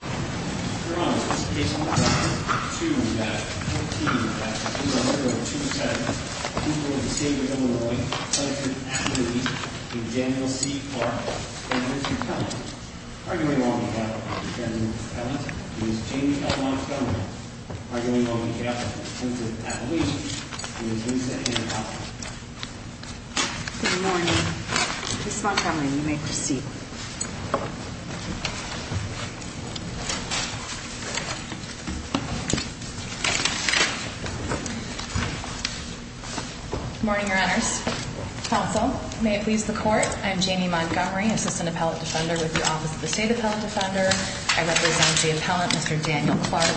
you. I mean we're going on. Good morning. This is Montgomery. Make your Sea. Good morning, your honors. Also, may it please the court. I'm Jamie Montgomery, assistant appellate defender with the office of the state appellate defender. I represent the appellant, Mr. Daniel Clark.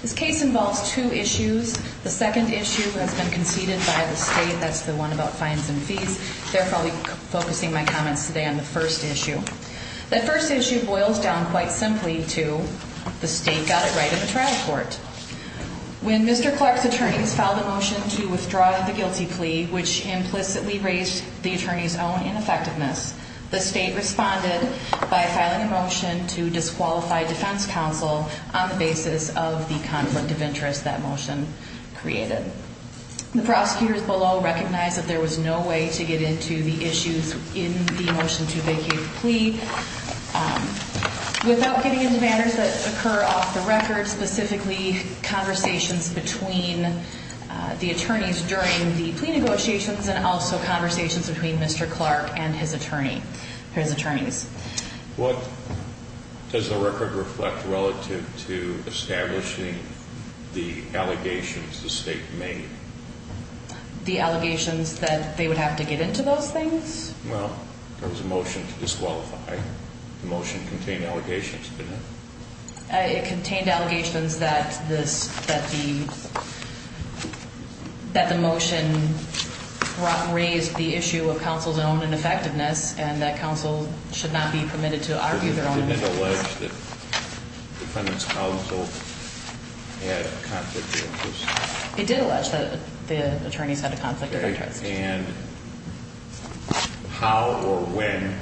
This case involves two issues. The second issue has been conceded by the state. That's the one about fines and fees. They're probably focusing my comments today on the first issue. The first issue boils down quite simply to the state got it right in the trial court. When Mr. Clark's attorneys filed a motion to withdraw the guilty plea, which implicitly raised the attorney's own ineffectiveness, the state responded by filing a motion to disqualify defense counsel on the basis of the conflict of interest. That motion created the prosecutors below recognize that there was no way to get to the issues in the motion to vacate the plea without getting into matters that occur off the record, specifically conversations between the attorneys during the plea negotiations and also conversations between Mr. Clark and his attorney, his attorneys. What does the record reflect relative to establishing the allegations the state made the allegations that they would have to get into those things? Well, there was a motion to disqualify the motion contained allegations, but it contained allegations that this, that the, that the motion raised the issue of counsel's own ineffectiveness and that counsel should not be permitted to argue alleged that defendants counsel it did allege that the attorneys had a conflict of interest and how or when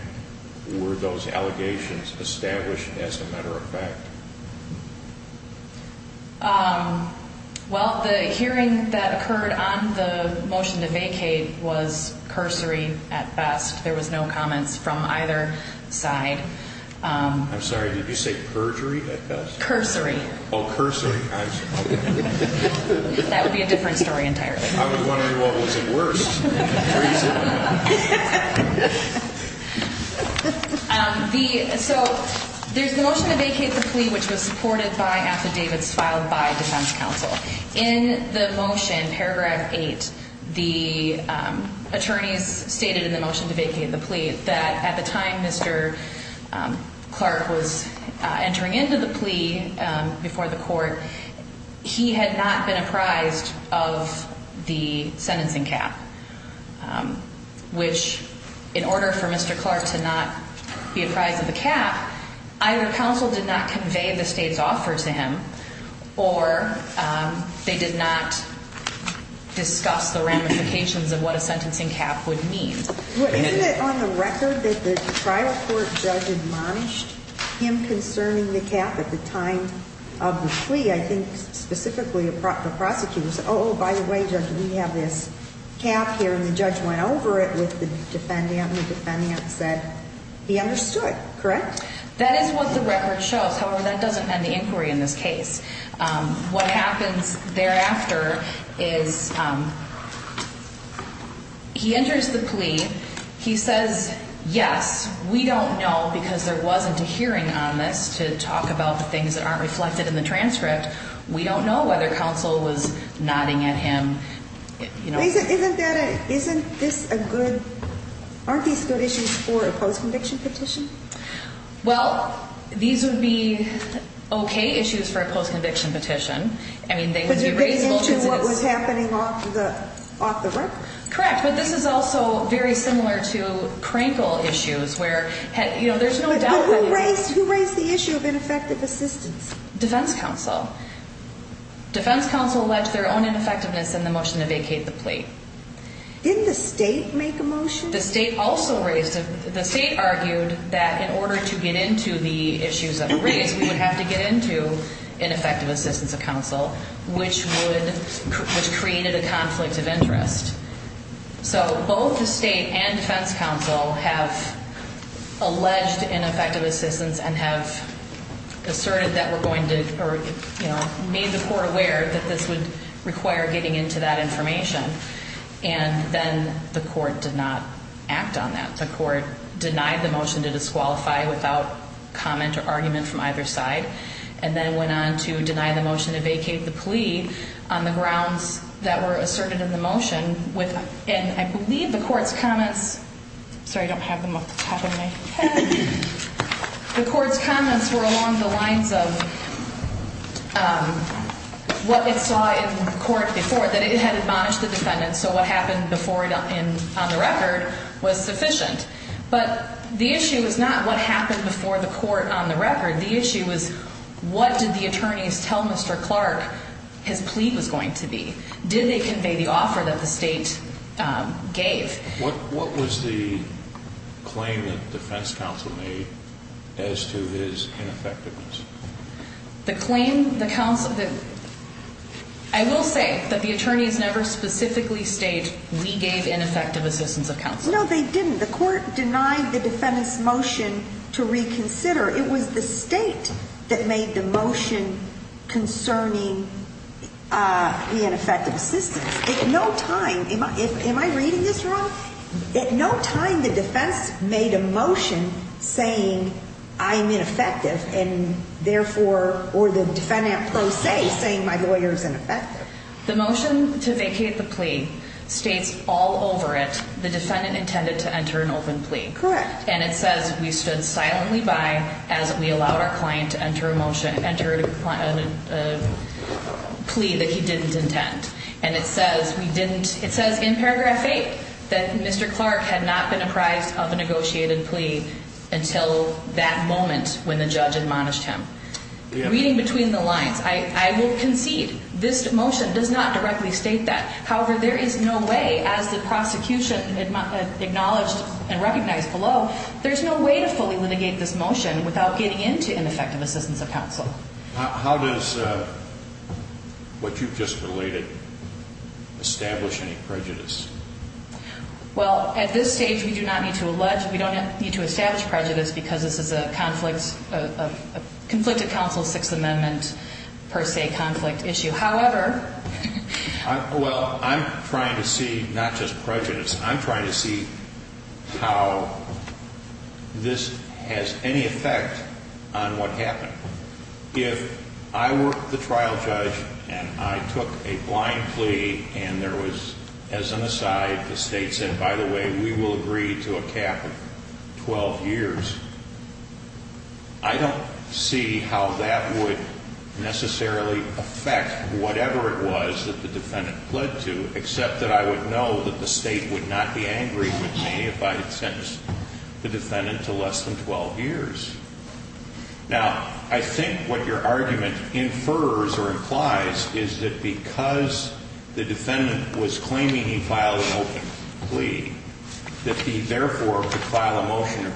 were those allegations established as a matter of fact? Um, well, the hearing that occurred on the motion to vacate was cursory at best. There was no comments from either side. Um, I'm sorry, did you say perjury at best? Cursory? Oh, cursory. That would be a different story. Entirely. So there's the motion to vacate the plea, which was supported by affidavits filed by defense counsel in the motion. Paragraph eight, the attorneys stated in the motion to vacate the plea that at time, Mr. Um, Clark was entering into the plea, um, before the court, he had not been apprised of the sentencing cap. Um, which in order for Mr. Clark to not be apprised of the cap, either counsel did not convey the state's offer to him, or, um, they did not discuss the ramifications of what a sentencing cap would mean. Well, isn't it on the record that the trial court judge admonished him concerning the cap at the time of the plea? I think specifically the prosecutor said, oh, by the way, judge, we have this cap here and the judge went over it with the defendant and the defendant said he understood, correct? That is what the record shows. However, that doesn't end the inquiry in this case. Um, what happens thereafter is, um, he enters the plea. He says, yes, we don't know because there wasn't a hearing on this to talk about the things that aren't reflected in the transcript, we don't know whether counsel was nodding at him, you know, isn't this a good, aren't these good issues for a post-conviction petition? Well, these would be okay issues for a post-conviction petition. I mean, they would be reasonable to what was happening off the, off the record. Correct. But this is also very similar to crankle issues where, you know, there's no doubt who raised, who raised the issue of ineffective assistance, defense counsel, defense counsel, alleged their own ineffectiveness in the motion to vacate the plate. Didn't the state make a motion? The state also raised, the state argued that in order to get into the issues that were raised, we would have to get into ineffective assistance of counsel, which would, which created a conflict of interest. So both the state and defense counsel have alleged ineffective assistance and have asserted that we're going to, or, you know, made the court aware that this would require getting into that information and then the court did not act on that, the court denied the motion to disqualify without comment or argument from either side. And then it went on to deny the motion to vacate the plea on the grounds that were asserted in the motion with, and I believe the court's comments, sorry, I don't have them up the top of my head, the court's comments were along the lines of what it saw in court before that it had admonished the defendant. So what happened before and on the record was sufficient, but the issue was not what happened before the court on the record. The issue was what did the attorneys tell Mr. Clark his plea was going to be? Did they convey the offer that the state gave? What was the claim that defense counsel made as to his ineffectiveness? The claim, the counsel, I will say that the attorneys never specifically state, we gave ineffective assistance of counsel. No, they didn't. The court denied the defendant's motion to reconsider. It was the state that made the motion concerning, uh, the ineffective assistance. At no time, am I reading this wrong? At no time, the defense made a motion saying I'm ineffective and therefore, or the defendant per se saying my lawyer is ineffective. The motion to vacate the plea states all over it, the defendant intended to enter an open plea. And it says we stood silently by as we allowed our client to enter a motion, enter a plea that he didn't intend. And it says we didn't, it says in paragraph eight that Mr. Clark had not been apprised of a negotiated plea until that moment when the judge admonished him. Reading between the lines, I will concede this motion does not directly state that. However, there is no way as the prosecution acknowledged and recognized below, there's no way to fully litigate this motion without getting into ineffective assistance of counsel. How does, uh, what you've just related establish any prejudice? Well, at this stage, we do not need to allege, we don't need to establish prejudice because this is a conflict, a conflicted counsel, sixth amendment per se conflict issue. However, well, I'm trying to see not just prejudice. I'm trying to see how this has any effect on what happened. If I work the trial judge and I took a blind plea and there was, as an aside, the state said, by the way, we will agree to a cap of 12 years. I don't see how that would necessarily affect whatever it was that the defendant pled to, except that I would know that the state would not be angry with me if I had sentenced the defendant to less than 12 years. Now, I think what your argument infers or implies is that because the defendant was claiming he filed an open plea, that he therefore could file a motion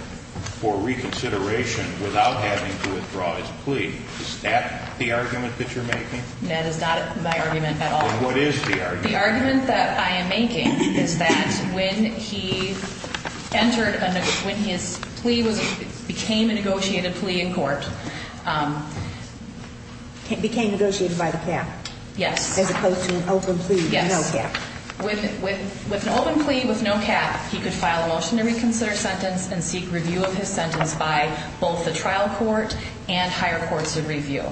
for reconsideration without having to withdraw his plea. Is that the argument that you're making? That is not my argument at all. What is the argument? The argument that I am making is that when he entered, when his plea was, became a negotiated plea in court, um. It became negotiated by the cap. Yes. As opposed to an open plea. Yes. With, with, with an open plea with no cap, he could file a motion to reconsider sentence and seek review of his sentence by both the trial court and higher courts of review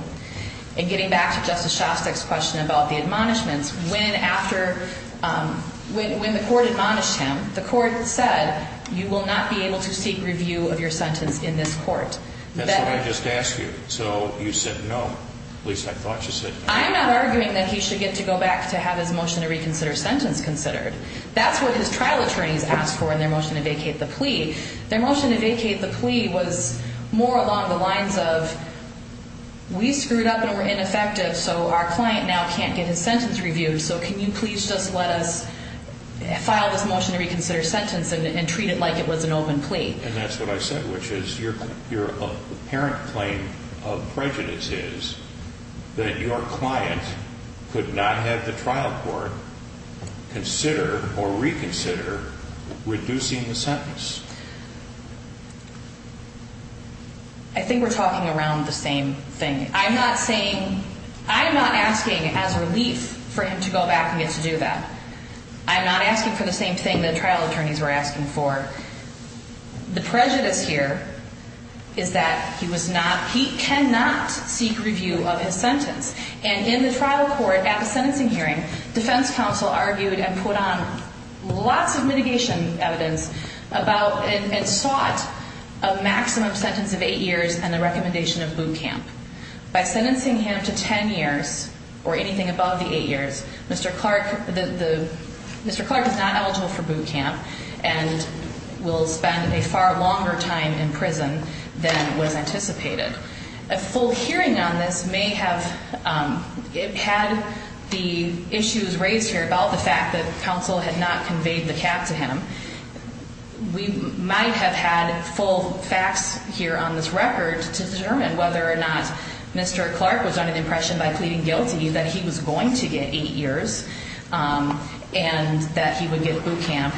and getting back to Justice Shostak's question about the admonishments. When after, um, when, when the court admonished him, the court said, you will not be able to seek review of your sentence in this court. That's what I just asked you. So you said no, at least I thought you said. I'm not arguing that he should get to go back to have his motion to reconsider sentence considered. That's what his trial attorneys asked for in their motion to vacate the plea. Their motion to vacate the plea was more along the lines of we screwed up and we're ineffective, so our client now can't get his sentence reviewed. So can you please just let us file this motion to reconsider sentence and, and treat it like it was an open plea. And that's what I said, which is your, your parent claim of prejudice is that your client could not have the trial court consider or reconsider reducing the sentence. I think we're talking around the same thing. I'm not saying, I'm not asking as relief for him to go back and get to do that. I'm not asking for the same thing that trial attorneys were asking for. The prejudice here is that he was not, he cannot seek review of his sentence. And in the trial court, at the sentencing hearing, defense counsel argued and put on lots of mitigation evidence about, and sought a maximum sentence of eight years and the recommendation of boot camp. By sentencing him to 10 years or anything above the eight years, Mr. Clark, the, the, Mr. Clark is not eligible for boot camp and will spend a far longer time in prison than was anticipated. A full hearing on this may have, um, it had the issues raised here about the fact that counsel had not conveyed the cap to him. We might have had full facts here on this record to determine whether or not Mr. Clark was on an impression by pleading guilty that he was going to get eight years, um, and that he would get boot camp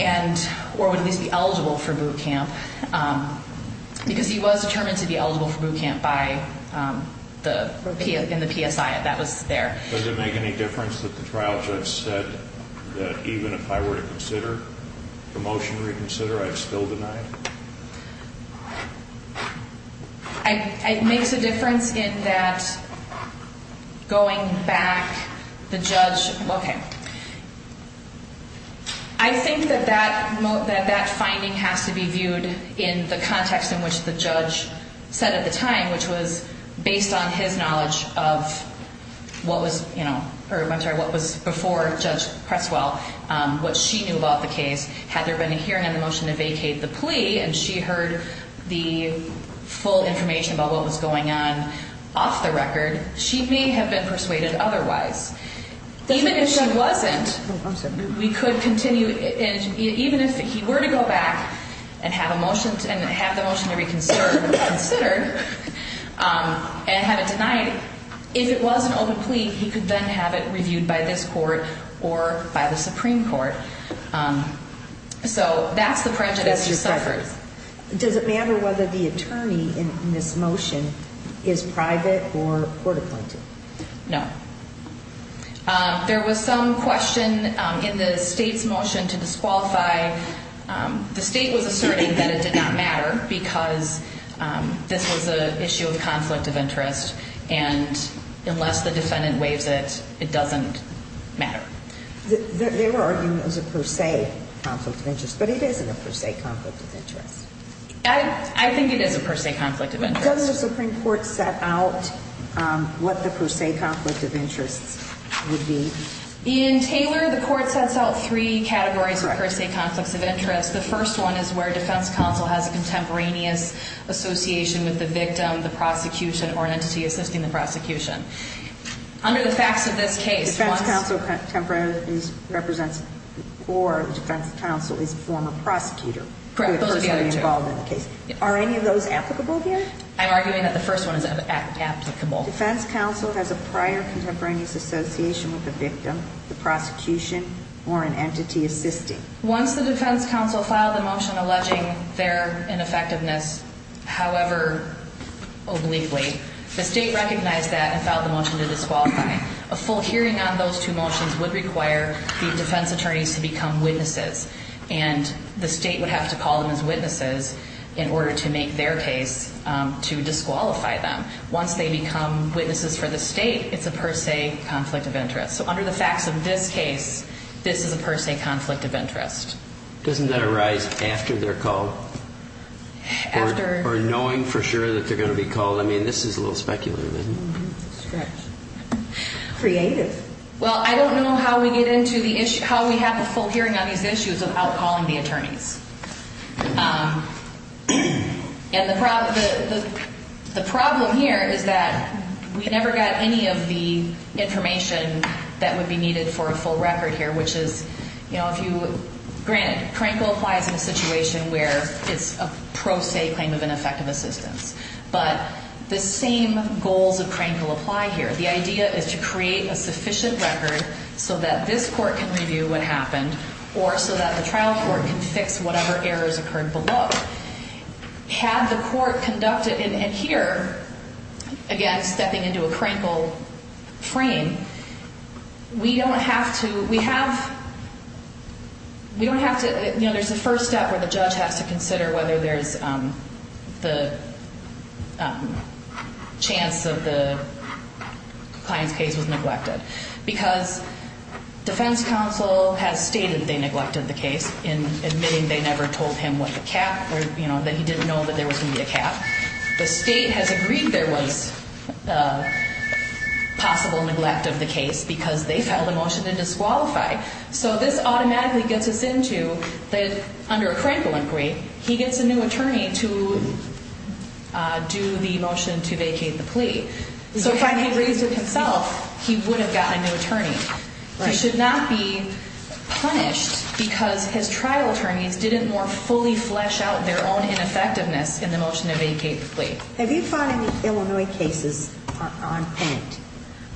and, or would at least be eligible for boot camp, um, because he was determined to be eligible for boot camp by, um, the, in the PSI that was there. Does it make any difference that the trial judge said that even if I were to consider promotion reconsider, I'd still deny it? I, it makes a difference in that going back, the judge, okay. I think that that, that, that finding has to be viewed in the context in which the judge said at the time, which was based on his knowledge of what was, you know, or I'm sorry, what was before judge Creswell, um, what she knew about the case, had there been a hearing on the motion to vacate the plea and she heard the full information about what was going on off the record, she may have been persuaded otherwise. Even if she wasn't, we could continue, even if he were to go back and have a motion and have the motion to reconsider considered, um, and have it denied, if it was an open plea, he could then have it reviewed by this court or by the Supreme court. Um, so that's the prejudice she suffered. Does it matter whether the attorney in this motion is private or court-appointed? No. Um, there was some question, um, in the state's motion to disqualify, um, the state was asserting that it did not matter because, um, this was a issue of conflict of interest and unless the defendant waives it, it doesn't matter. The, they were arguing it was a per se conflict of interest, but it isn't a per se conflict of interest. I, I think it is a per se conflict of interest. Does the Supreme court set out, um, what the per se conflict of interests would be? In Taylor, the court sets out three categories per se conflicts of interest. The first one is where defense counsel has a contemporaneous association with the victim, the prosecution or an entity assisting the prosecution. Under the facts of this case, defense counsel temporarily represents or defense counsel is former prosecutor involved in the case. Are any of those applicable here? I'm arguing that the first one is applicable. Defense counsel has a prior contemporaneous association with the victim, the prosecution or an entity assisting. Once the defense counsel filed the motion alleging their ineffectiveness, however, obliquely the state recognized that and filed the motion to disqualify. A full hearing on those two motions would require the defense attorneys to become witnesses. And the state would have to call them as witnesses in order to make their case, um, to disqualify them. Once they become witnesses for the state, it's a per se conflict of interest. So under the facts of this case, this is a per se conflict of interest. Doesn't that arise after they're called or knowing for sure that they're going to be called? I mean, this is a little speculative, isn't it? Creative. Well, I don't know how we get into the issue, how we have a full hearing on these issues of outcalling the attorneys. Um, and the problem, the, the, the problem here is that we never got any of the information that would be needed for a full record here, which is, you know, if you grant, crankle applies in a situation where it's a pro se claim of ineffective assistance, but the same goals of crankle apply here. The idea is to create a sufficient record so that this court can review what happened or so that the trial court can fix whatever errors occurred below. Had the court conducted in here, again, stepping into a crankle frame, we don't have to, we have, we don't have to, you know, there's a first step where the judge has to consider whether there's, um, the, um, chance of the compliance case was neglected because defense counsel has stated they neglected the case in admitting they never told him what the cap or, you know, that he didn't know that there was going to be a cap. The state has agreed there was a possible neglect of the case because they filed a motion to disqualify. So this automatically gets us into that under a crankle inquiry, he gets a new attorney to, uh, do the motion to vacate the plea. So if I had raised it himself, he would have gotten a new attorney. He should not be punished because his trial attorneys didn't more fully flesh out their own ineffectiveness in the motion to vacate the plea. Have you found any Illinois cases on point?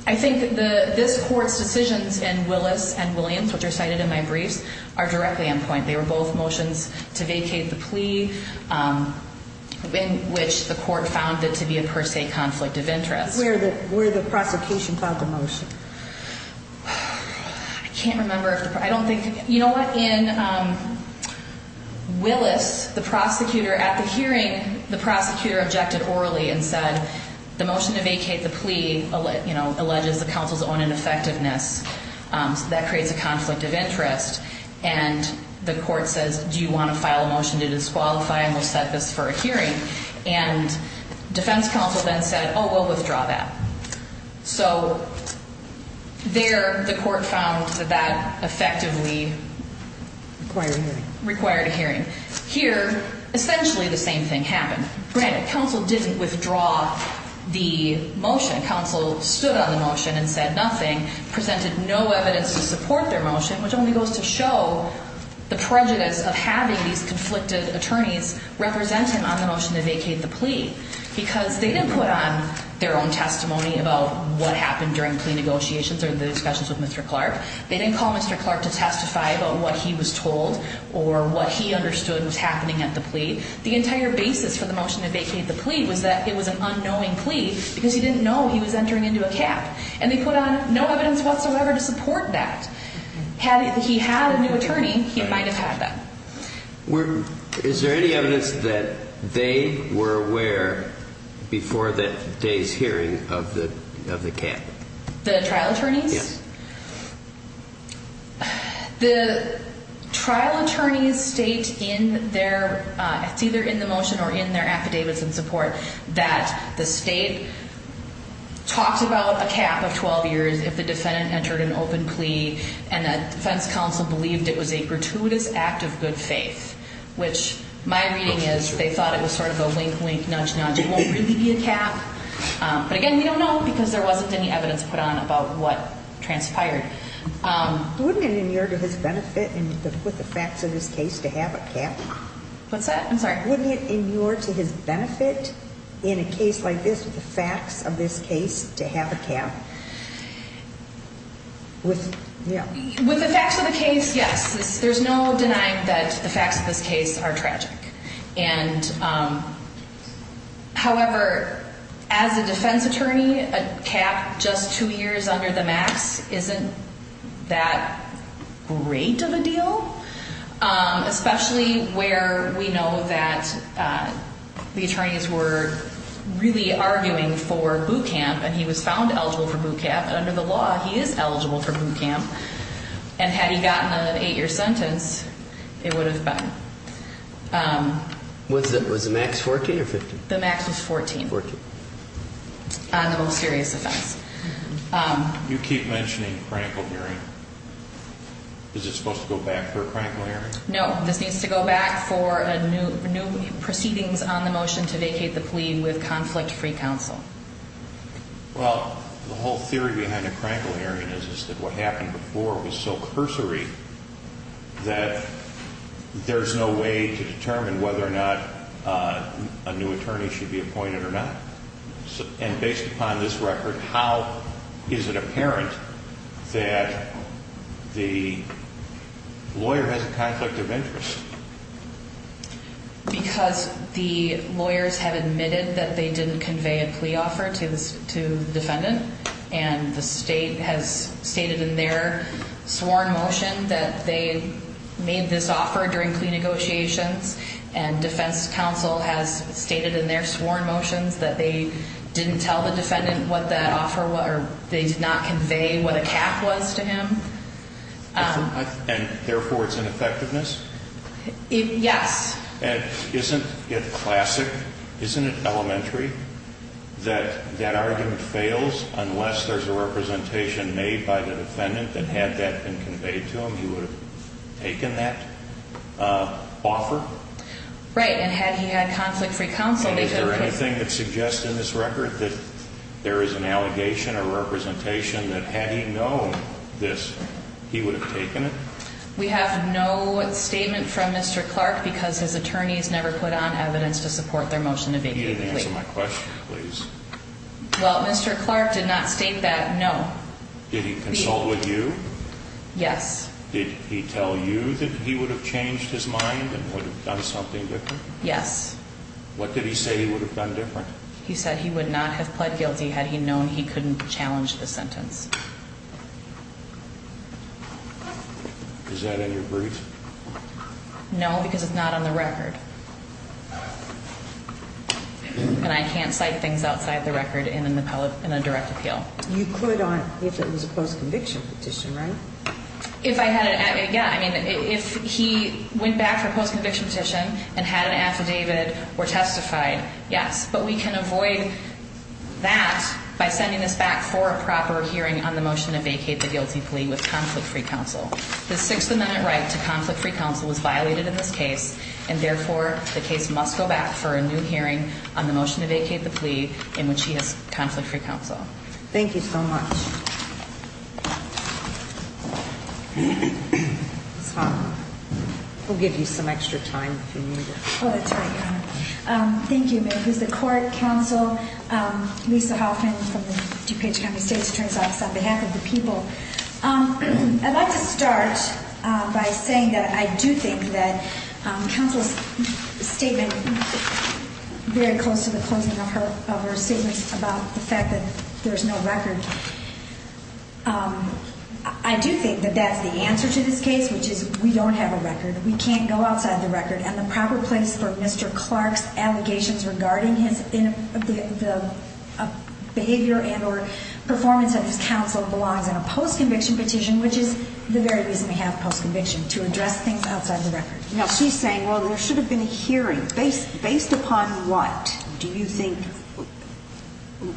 I think the, this court's decisions in Willis and Williams, which are cited in my briefs, are directly on point. They were both motions to vacate the plea, um, in which the court found it to be a per se conflict of interest. Where the, where the prosecution filed the motion? I can't remember if the, I don't think, you know what, in, um, Willis, the prosecutor at the hearing, the prosecutor objected orally and said the motion to vacate the plea, you know, alleges the council's own ineffectiveness, um, so that creates a conflict of interest. And the court says, do you want to file a motion to disqualify? And we'll set this for a hearing. And defense counsel then said, oh, we'll withdraw that. So there the court found that that effectively required a hearing. Here, essentially the same thing happened. Granted, counsel didn't withdraw the motion. Counsel stood on the motion and said nothing, presented no evidence to support their motion, which only goes to show the prejudice of having these conflicted to vacate the plea because they didn't put on their own testimony about what happened during plea negotiations or the discussions with Mr. Clark. They didn't call Mr. Clark to testify about what he was told or what he understood was happening at the plea. The entire basis for the motion to vacate the plea was that it was an unknowing plea because he didn't know he was entering into a cap and they put on no evidence whatsoever to support that. Had he had a new attorney, he might've had that. Were, is there any evidence that they were aware before that day's hearing of the, of the cap? The trial attorneys? The trial attorneys state in their, uh, it's either in the motion or in their affidavits and support that the state talks about a cap of 12 years if the defendant entered an open plea and that defense counsel believed it was a good faith, which my reading is they thought it was sort of a wink, wink, nudge, nudge. It won't really be a cap. Um, but again, we don't know because there wasn't any evidence put on about what transpired. Um, wouldn't it in your, to his benefit and with the facts of this case to have a cap, what's that? I'm sorry. Wouldn't it in your, to his benefit in a case like this, with the facts of this case to have a cap with, yeah, with the facts of the case. Yes. There's no denying that the facts of this case are tragic. And, um, however, as a defense attorney, a cap just two years under the max isn't that great of a deal. Um, especially where we know that, uh, the attorneys were really arguing for bootcamp and he was found eligible for bootcamp and under the law, he is an eight year sentence. It would have been, um, was it, was the max 14 or 15? The max was 14. 14. On the most serious offense. Um, you keep mentioning crankle hearing. Is it supposed to go back for a crankle hearing? No, this needs to go back for a new, new proceedings on the motion to vacate the plea with conflict-free counsel. Well, the whole theory behind a crankle hearing is, is that what happened before was so cursory that there's no way to determine whether or not, uh, a new attorney should be appointed or not. And based upon this record, how is it apparent that the lawyer has a conflict of interest because the lawyers have admitted that they didn't convey a plea offer to the defendant. And the state has stated in their sworn motion that they made this offer during plea negotiations. And defense counsel has stated in their sworn motions that they didn't tell the defendant what that offer was, or they did not convey what a cap was to him. And therefore it's an effectiveness? Yes. And isn't it classic? Isn't it elementary that that argument fails unless there's a representation made by the defendant that had that been conveyed to him, he would have taken that uh, offer? Right. And had he had conflict-free counsel, is there anything that suggests in this record that there is an allegation or representation that had he known this, he would have taken it? We have no statement from Mr. support their motion to vacate. Well, Mr. Clark did not state that. No. Did he consult with you? Yes. Did he tell you that he would have changed his mind and would have done something different? Yes. What did he say he would have done different? He said he would not have pled guilty. Had he known he couldn't challenge the sentence. Is that in your brief? No, because it's not on the record. And I can't cite things outside the record in an appellate, in a direct appeal. You could on, if it was a post conviction petition, right? If I had an, yeah, I mean, if he went back for post conviction petition and had an affidavit or testified, yes, but we can avoid that by sending this back for a proper hearing on the motion to vacate the guilty plea with conflict-free counsel, the sixth amendment right to conflict-free counsel was violated in this case. And therefore the case must go back for a new hearing on the motion to vacate the plea in which he has conflict-free counsel. Thank you so much. We'll give you some extra time. Thank you, Mary. Who's the court counsel? Um, Lisa Hoffman from the DuPage County state attorney's office on behalf of the people. Um, I'd like to start, uh, by saying that I do think that, um, counsel's statement very close to the closing of her, of her statements about the fact that there's no record. Um, I do think that that's the answer to this case, which is we don't have a record. We can't go outside the record and the proper place for Mr. Clark's allegations regarding his, in the, the behavior and or performance of counsel belongs in a post-conviction petition, which is the very reason we have post-conviction to address things outside the record. Now she's saying, well, there should have been a hearing based, based upon what do you think,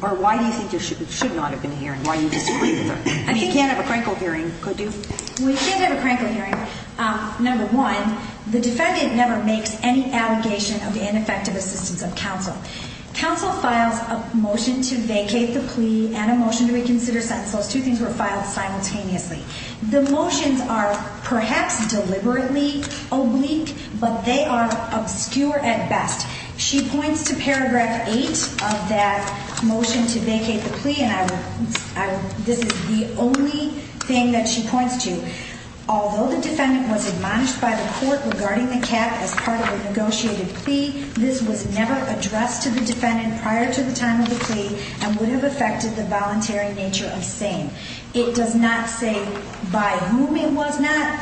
or why do you think there should, it should not have been a hearing? Why do you disagree with her? I mean, you can't have a crankle hearing, could you? We can't have a crankle hearing. Um, number one, the defendant never makes any allegation of the ineffective assistance of counsel. Counsel files a motion to vacate the plea and a motion to reconsider sentence. Those two things were filed simultaneously. The motions are perhaps deliberately oblique, but they are obscure at best. She points to paragraph eight of that motion to vacate the plea. And I will, I will, this is the only thing that she points to. Although the defendant was admonished by the court regarding the cap as part of the negotiated plea, this was never addressed to the defendant prior to the time of the plea and would have affected the voluntary nature of SANE. It does not say by whom it was not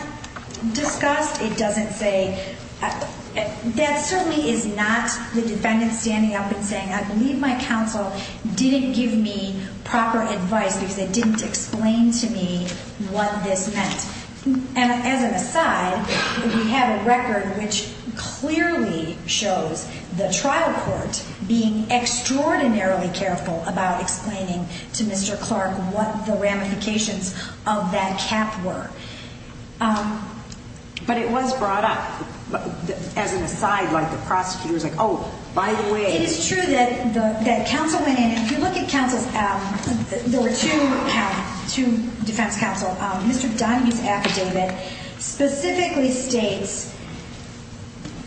discussed. It doesn't say, that certainly is not the defendant standing up and saying, I believe my counsel didn't give me proper advice because they didn't explain to me what this meant. And as an aside, we have a record which clearly shows the trial court being extraordinarily careful about explaining to Mr. Clark, what the ramifications of that cap were. Um, but it was brought up as an aside, like the prosecutor's like, Oh, by the way, it's true that the, that counsel went in and if you look at counsel's, um, there were two, two defense counsel, um, Mr. Donahue's affidavit specifically states,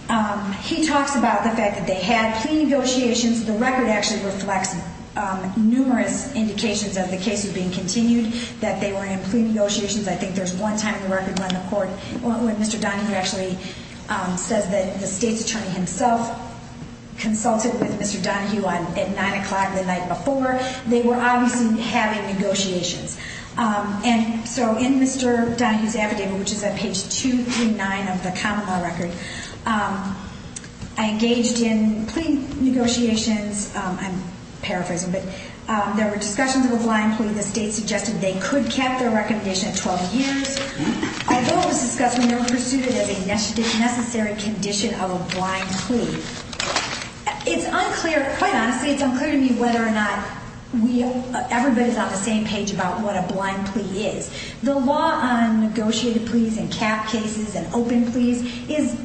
um, he talks about the fact that they had plea negotiations. The record actually reflects, um, numerous indications of the case of being continued, that they were in plea negotiations. I think there's one time in the record when the court, when Mr. Donahue actually, um, says that the state's attorney himself consulted with Mr. Donahue on at nine o'clock the night before. They were obviously having negotiations. Um, and so in Mr. Donahue's affidavit, which is at page two through nine of the common law record, um, I engaged in plea negotiations. Um, I'm paraphrasing, but, um, there were discussions of a blind plea. The state suggested they could cap their recommendation at 12 years, although it was discussed when they were pursued as a necessary condition of a blind plea. It's unclear, quite honestly, it's unclear to me whether or not we, everybody's on the same page about what a blind plea is. The law on negotiated pleas and cap cases and open pleas is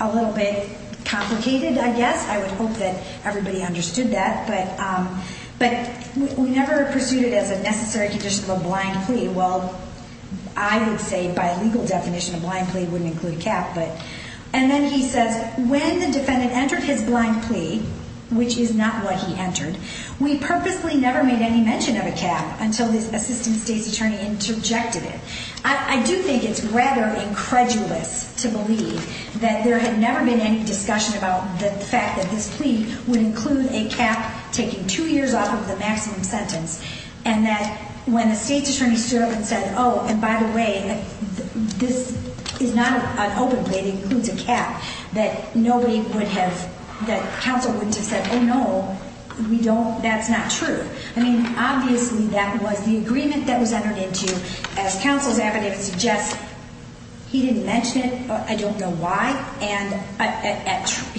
a little bit complicated, I guess. I would hope that everybody understood that, but, um, but we never pursued it as a necessary condition of a blind plea. Well, I would say by legal definition, a blind plea wouldn't include a cap, but, and then he says, when the defendant entered his blind plea, which is not what he entered, we purposely never made any mention of a cap until this assistant state's attorney interjected it. I do think it's rather incredulous to believe that there had never been any discussion about the fact that this plea would include a cap taking two years off of the maximum sentence. And that when the state's attorney stood up and said, oh, and by the way, this is not an open plea, it includes a cap, that nobody would have, that counsel wouldn't have said, oh no, we don't, that's not true. I mean, obviously that was the agreement that was entered into as counsel's affidavit suggests, he didn't mention it, I don't know why, and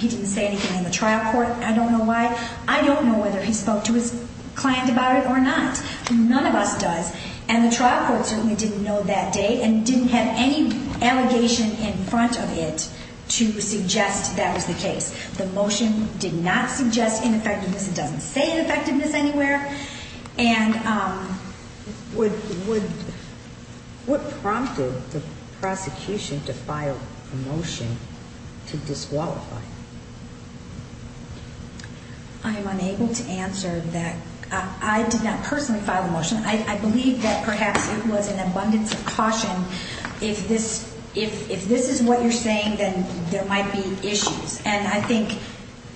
he didn't say anything in the trial court, I don't know why. I don't know whether he spoke to his client about it or not. None of us does. And the trial court certainly didn't know that day and didn't have any allegation in front of it to suggest that was the case. The motion did not suggest ineffectiveness. It doesn't say ineffectiveness anywhere. And, um, What prompted the prosecution to file a motion to disqualify? I am unable to answer that. I did not personally file a motion. I believe that perhaps it was an abundance of caution. If this, if, if this is what you're saying, then there might be issues. And I think,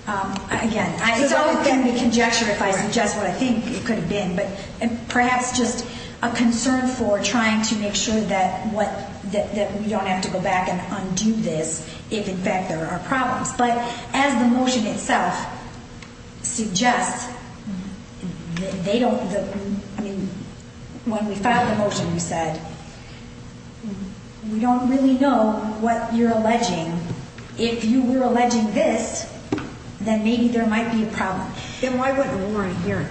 um, again, it's always going to be conjecture if I suggest what I think it could have been, but perhaps just a concern for trying to make sure that what, that, that we don't have to go back and undo this, if in fact there are problems, but as the motion itself suggests, they don't, I mean, when we filed the motion, we said, we don't really know what you're alleging, if you were alleging this, then maybe there might be a problem. And why wouldn't warrant hearing?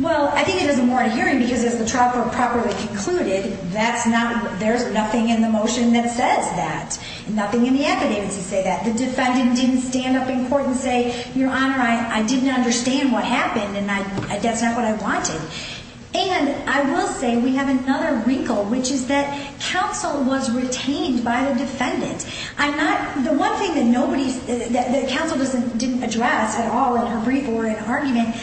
Well, I think it doesn't warrant hearing because as the trial court properly concluded, that's not, there's nothing in the motion that says that nothing in the evidence to say that the defendant didn't stand up in court and say, your honor, I, I didn't understand what happened. And I, that's not what I wanted. And I will say, we have another wrinkle, which is that counsel was retained by the defendant. I'm not, the one thing that nobody's, that the counsel doesn't, didn't address at all in her brief or in argument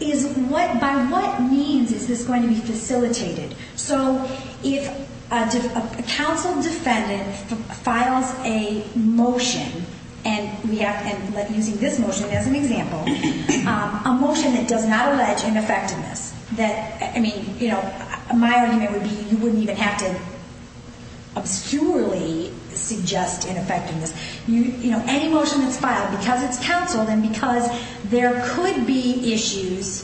is what, by what means is this going to be facilitated? So if a counsel defendant files a motion and we have, and like using this motion as an example, a motion that does not allege ineffectiveness that, I mean, you know, my argument would be, you wouldn't even have to obscurely suggest ineffectiveness. You know, any motion that's filed because it's counseled and because there could be issues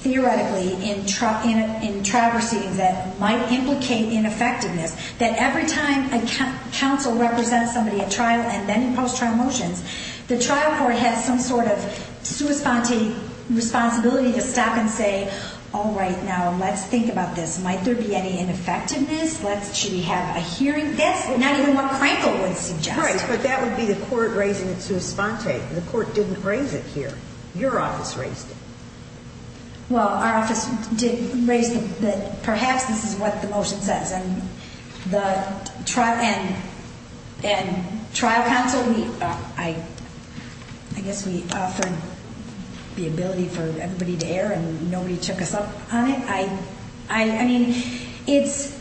theoretically in, in, in traversing that might implicate ineffectiveness that every time a counsel represents somebody at trial and then in post-trial motions, the trial court has some sort of sua sponte responsibility to stop and say, all right, now let's think about this. Might there be any ineffectiveness? Let's, should we have a hearing? That's not even what Crankle would suggest. But that would be the court raising it sua sponte. The court didn't raise it here. Your office raised it. Well, our office did raise that perhaps this is what the motion says. And the trial and, and trial counsel, we, I, I guess we offered the ability for everybody to air and nobody took us up on it. I, I, I mean, it's,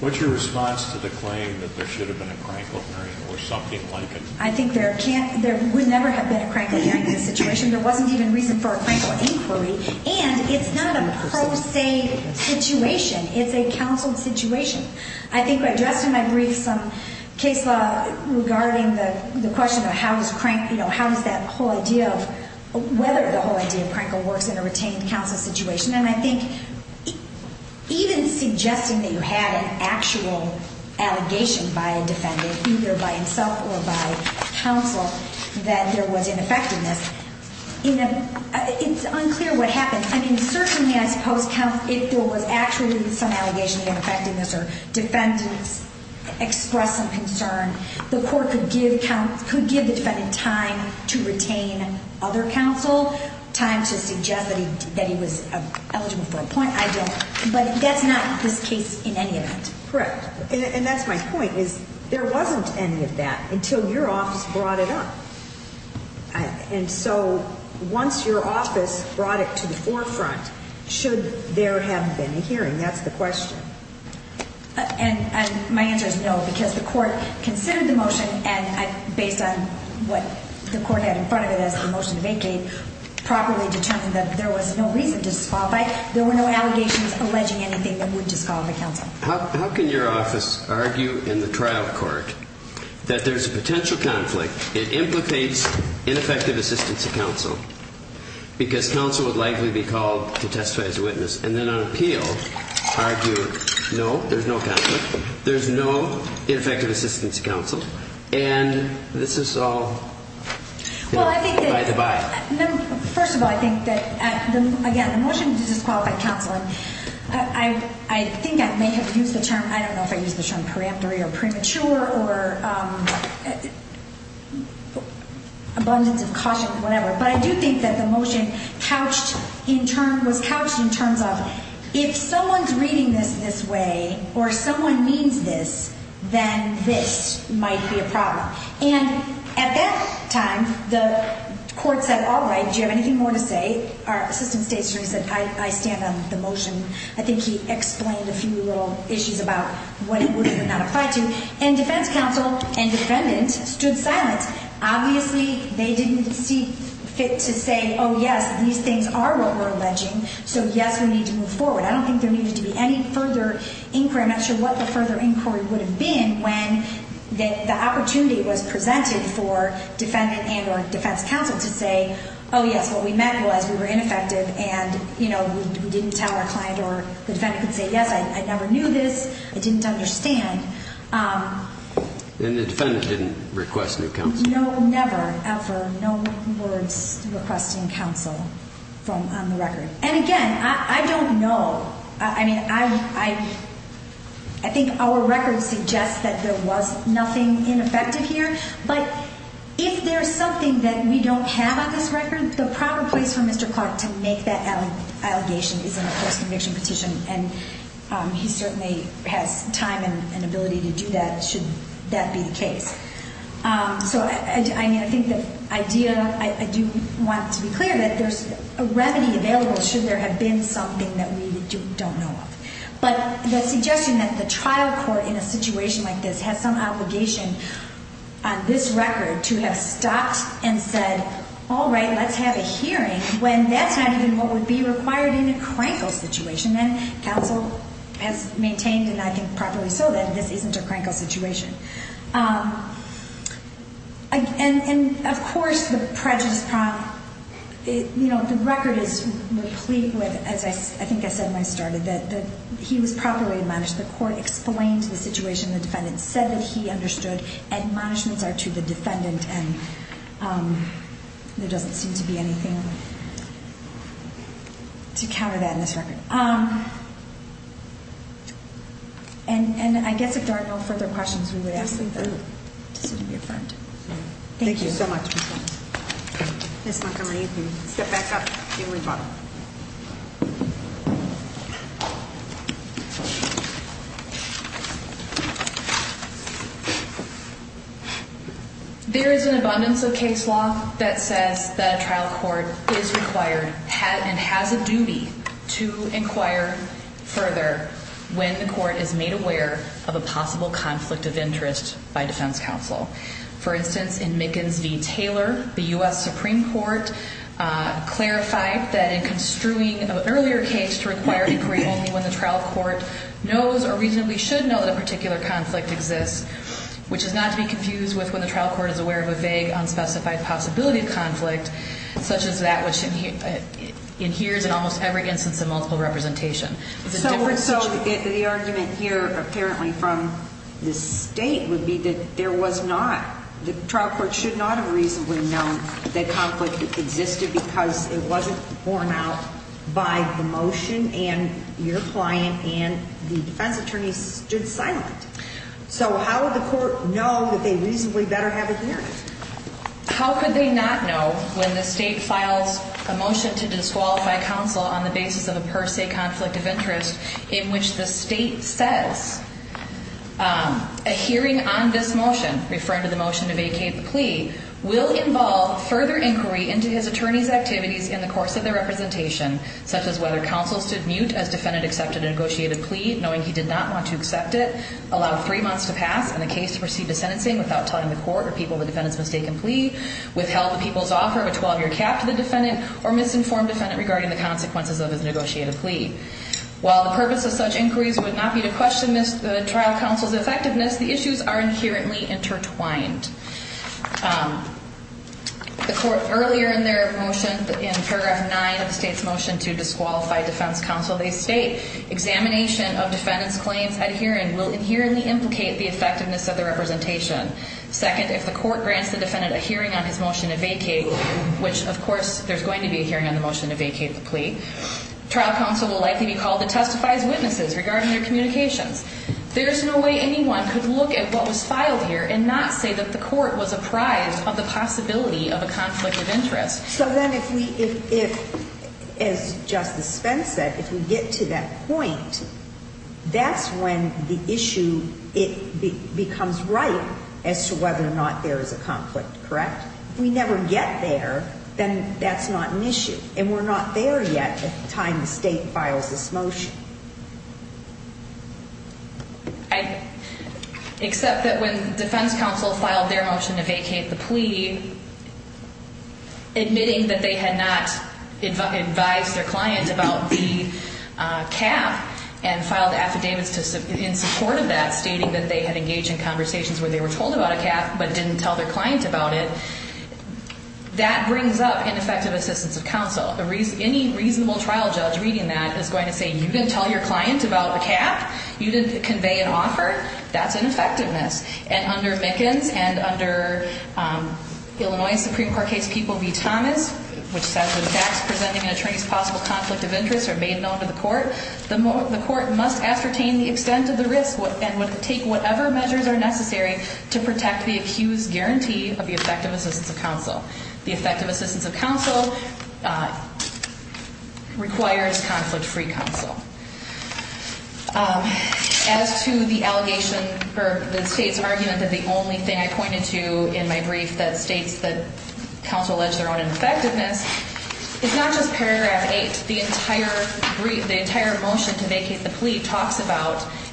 what's your response to the claim that there should have been a Crankle hearing or something like it? I think there can't, there would never have been a Crankle hearing in this situation. There wasn't even reason for a Crankle inquiry and it's not a pro se situation. It's a counseled situation. I think I addressed in my brief some case law regarding the, the question of how does Crank, you know, how does that whole idea of whether the whole idea of Crankle works in a retained counsel situation. And I think even suggesting that you had an actual allegation by a defendant, either by himself or by counsel, that there was ineffectiveness in a, it's unclear what happened. I mean, certainly I suppose counsel, if there was actually some allegation of effectiveness or defendants express some concern, the court could give coun, could give the defendant time to retain other counsel, time to suggest that he, that he was eligible for a point. I don't, but that's not this case in any event. Correct. And that's my point is there wasn't any of that until your office brought it up. And so once your office brought it to the forefront, should there have been a hearing? That's the question. And my answer is no, because the court considered the motion and based on what the court had in front of it as the motion to vacate, properly determined that there was no reason to disqualify, there were no allegations alleging anything that would disqualify counsel. How, how can your office argue in the trial court that there's a potential conflict? It implicates ineffective assistance of counsel because counsel would likely be called to testify as a witness. And then on appeal argue, no, there's no conflict, there's no ineffective assistance of counsel. And this is all by the by. First of all, I think that again, the motion to disqualify counsel, I, I, I think I may have used the term, I don't know if I use the term preemptory or abundance of caution, whatever, but I do think that the motion couched in turn was couched in terms of if someone's reading this, this way, or someone means this, then this might be a problem. And at that time, the court said, all right, do you have anything more to say? Our assistant state attorney said, I, I stand on the motion. I think he explained a few little issues about what it would and would not apply to. And defense counsel and defendant stood silent. Obviously they didn't see fit to say, oh yes, these things are what we're alleging. So yes, we need to move forward. I don't think there needed to be any further inquiry. I'm not sure what the further inquiry would have been when the opportunity was presented for defendant and or defense counsel to say, oh yes, what we meant was we were ineffective and you know, we didn't tell our client or the defendant could say, yes, I never knew this. I didn't understand. And the defendant didn't request new counsel. No, never, ever. No words requesting counsel from on the record. And again, I don't know. I mean, I, I, I think our records suggest that there was nothing ineffective here. But if there's something that we don't have on this record, the proper place for Mr. Clark to make that allegation is in a first conviction petition. And he certainly has time and ability to do that should that be the case. So I mean, I think the idea I do want to be clear that there's a remedy available should there have been something that we don't know of. But the suggestion that the trial court in a situation like this has some obligation on this record to have stopped and said, all right, let's have a hearing when that's not even what would be required in a crankle situation. And counsel has maintained, and I think properly so, that this isn't a crankle situation. And of course, the prejudice, you know, the record is replete with, as I think I said when I started, that he was properly admonished. The court explained the situation. The defendant said that he understood admonishments are to the defendant. And there doesn't seem to be anything to counter that in this record. And I guess if there are no further questions, we would ask you to be affirmed. Thank you so much, Ms. Montgomery, you can step back up. There is an abundance of case law that says that a trial court is required and has a duty to inquire further when the court is made aware of a possible conflict of interest by defense counsel. For instance, in Mickens v. Taylor, the U.S. Supreme Court clarified that in construing an earlier case to require inquiry only when the trial court knows or reasonably should know that a particular conflict exists, which is not to be confused with when the trial court is aware of a vague, unspecified possibility of conflict, such as that which inheres in almost every instance of multiple representation. So the argument here, apparently from the state, would be that there was not, the trial court should not have reasonably known that conflict existed because it wasn't borne out by the motion and your client and the defense attorneys stood silent. So how would the court know that they reasonably better have adhered? How could they not know when the state files a motion to disqualify counsel on the basis of a per se conflict of interest in which the state says a hearing on this motion, referring to the motion to vacate the plea, will involve further inquiry into his attorney's activities in the course of the representation, such as whether counsel stood mute as defendant accepted a negotiated plea, knowing he did not want to accept it, allowed three months to pass, and the case to proceed to sentencing without telling the court or people the defendant's mistaken plea, withheld the people's offer of a 12-year cap to the defendant, or misinformed defendant regarding the consequences of his negotiated plea. While the purpose of such inquiries would not be to question the trial counsel's effectiveness, the issues are inherently intertwined. The court earlier in their motion, in paragraph nine of the state's motion to disqualify defense counsel, they state, examination of defendant's claims at the time of the representation. Second, if the court grants the defendant a hearing on his motion to vacate, which of course there's going to be a hearing on the motion to vacate the plea, trial counsel will likely be called to testify as witnesses regarding their communications. There's no way anyone could look at what was filed here and not say that the court was apprised of the possibility of a conflict of interest. So then if we, if, if, as Justice Spence said, if we get to that point, that's when the issue, it becomes right as to whether or not there is a conflict. Correct? If we never get there, then that's not an issue. And we're not there yet at the time the state files this motion. I accept that when defense counsel filed their motion to vacate the plea, admitting that they had not advised their client about the cap and filed the affidavits in support of that, stating that they had engaged in conversations where they were told about a cap, but didn't tell their client about it, that brings up ineffective assistance of counsel. A reason, any reasonable trial judge reading that is going to say, you didn't tell your client about the cap, you didn't convey an offer, that's ineffectiveness. And under Mickens and under Illinois Supreme Court case people v. Thomas, which says when facts presenting an attorney's possible conflict of the extent of the risk and would take whatever measures are necessary to protect the accused guarantee of the effective assistance of counsel, the effective assistance of counsel requires conflict-free counsel. As to the allegation or the state's argument that the only thing I pointed to in my brief that states that counsel alleged their own ineffectiveness, it's not just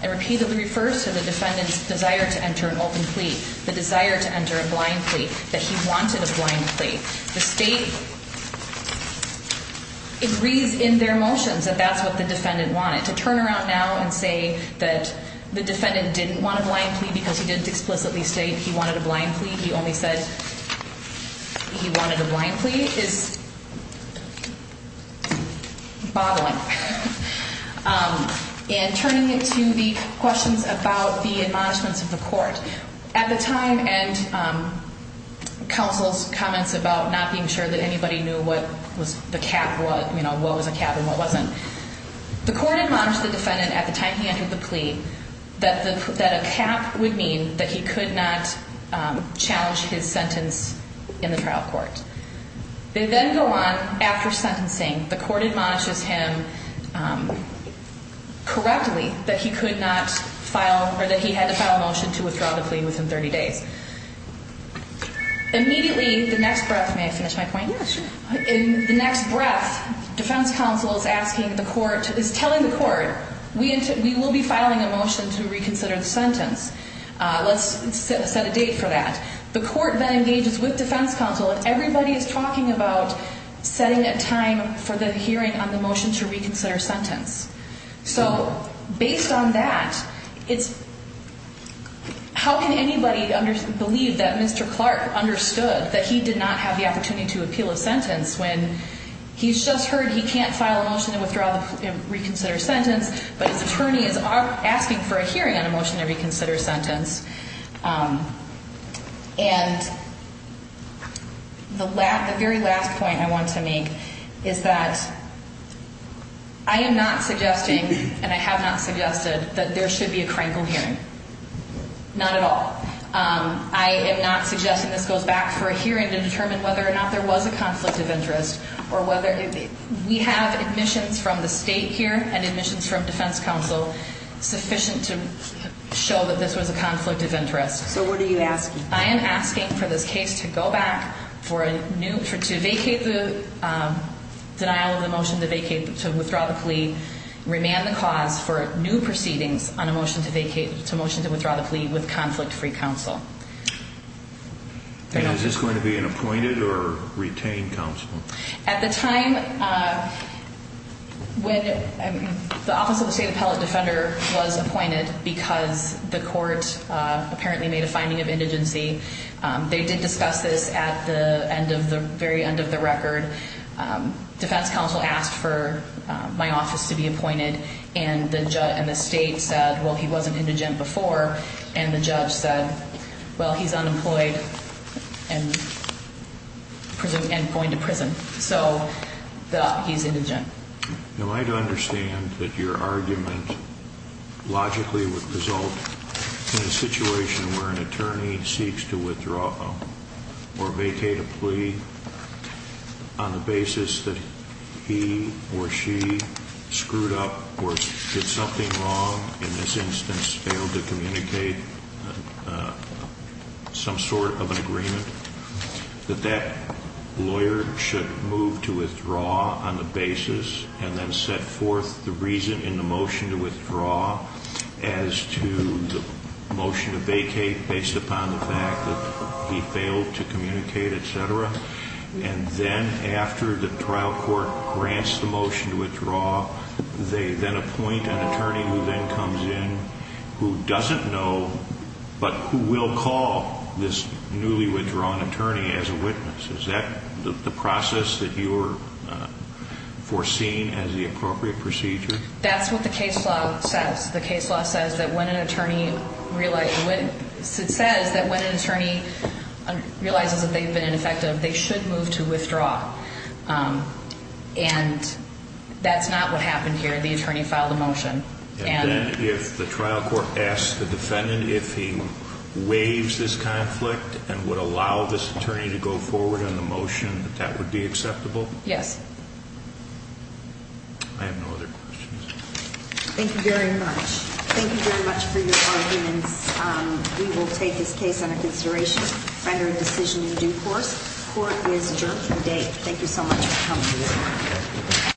and repeatedly refers to the defendant's desire to enter an open plea, the desire to enter a blind plea, that he wanted a blind plea, the state agrees in their motions that that's what the defendant wanted. To turn around now and say that the defendant didn't want a blind plea because he didn't explicitly state he wanted a blind plea, he only said he wanted a blind plea is bobbling. And turning it to the questions about the admonishments of the court, at the time and counsel's comments about not being sure that anybody knew what was the cap, what, you know, what was a cap and what wasn't, the court admonished the defendant at the time he entered the plea that the, that a cap would mean that he could not challenge his sentence in the trial court. They then go on after sentencing, the court admonishes him, um, correctly that he could not file or that he had to file a motion to withdraw the plea within 30 days. Immediately the next breath, may I finish my point? Yeah, sure. In the next breath, defense counsel is asking the court, is telling the court, we, we will be filing a motion to reconsider the sentence. Uh, let's set a date for that. The court then engages with defense counsel and everybody is talking about setting a time for the hearing on the motion to reconsider sentence. So based on that, it's how can anybody believe that Mr. Clark understood that he did not have the opportunity to appeal a sentence when he's just heard, he can't file a motion to withdraw the reconsider sentence, but his attorney is asking for a hearing on a motion to reconsider sentence. Um, and the last, the very last point I want to make is that I am not suggesting, and I have not suggested that there should be a crankled hearing. Not at all. Um, I am not suggesting this goes back for a hearing to determine whether or not there was a conflict of interest or whether we have admissions from the state here and admissions from defense counsel sufficient to show that this was a conflict of interest. So what are you asking? I am asking for this case to go back for a new, for, to vacate the, um, denial of the motion to vacate, to withdraw the plea, remand the cause for new proceedings on a motion to vacate, to motion to withdraw the plea with conflict-free counsel. And is this going to be an appointed or retained counsel? At the time, uh, when the office of the state appellate defender was appointed because the court, uh, apparently made a finding of indigency. Um, they did discuss this at the end of the very end of the record. Um, defense counsel asked for my office to be appointed and the judge and the state said, well, he wasn't indigent before. And the judge said, well, he's unemployed and prison and going to prison. So he's indigent. Am I to understand that your argument logically would result in a situation where an attorney seeks to withdraw or vacate a plea on the basis that he or she screwed up or did something wrong in this instance, failed to communicate, uh, some sort of an agreement that that lawyer should move to withdraw on the basis and then set forth the reason in the motion to withdraw as to the motion to vacate based upon the fact that he failed to communicate, et cetera. And then after the trial court grants the motion to withdraw, they then appoint an attorney who then comes in who doesn't know, but who will call this newly withdrawn attorney as a witness. Is that the process that you were, uh, foreseen as the appropriate procedure? That's what the case law says. The case law says that when an attorney realized when it says that when an attorney realizes that they've been ineffective, they should move to withdraw. Um, and that's not what happened here. The attorney filed a motion. And then if the trial court asked the defendant, if he waives this conflict and would allow this attorney to go forward on the motion, that that would be acceptable. Yes. I have no other questions. Thank you very much. Thank you very much for your arguments. Um, we will take this case under consideration, find a decision in due course court is adjourned for the day. Thank you so much.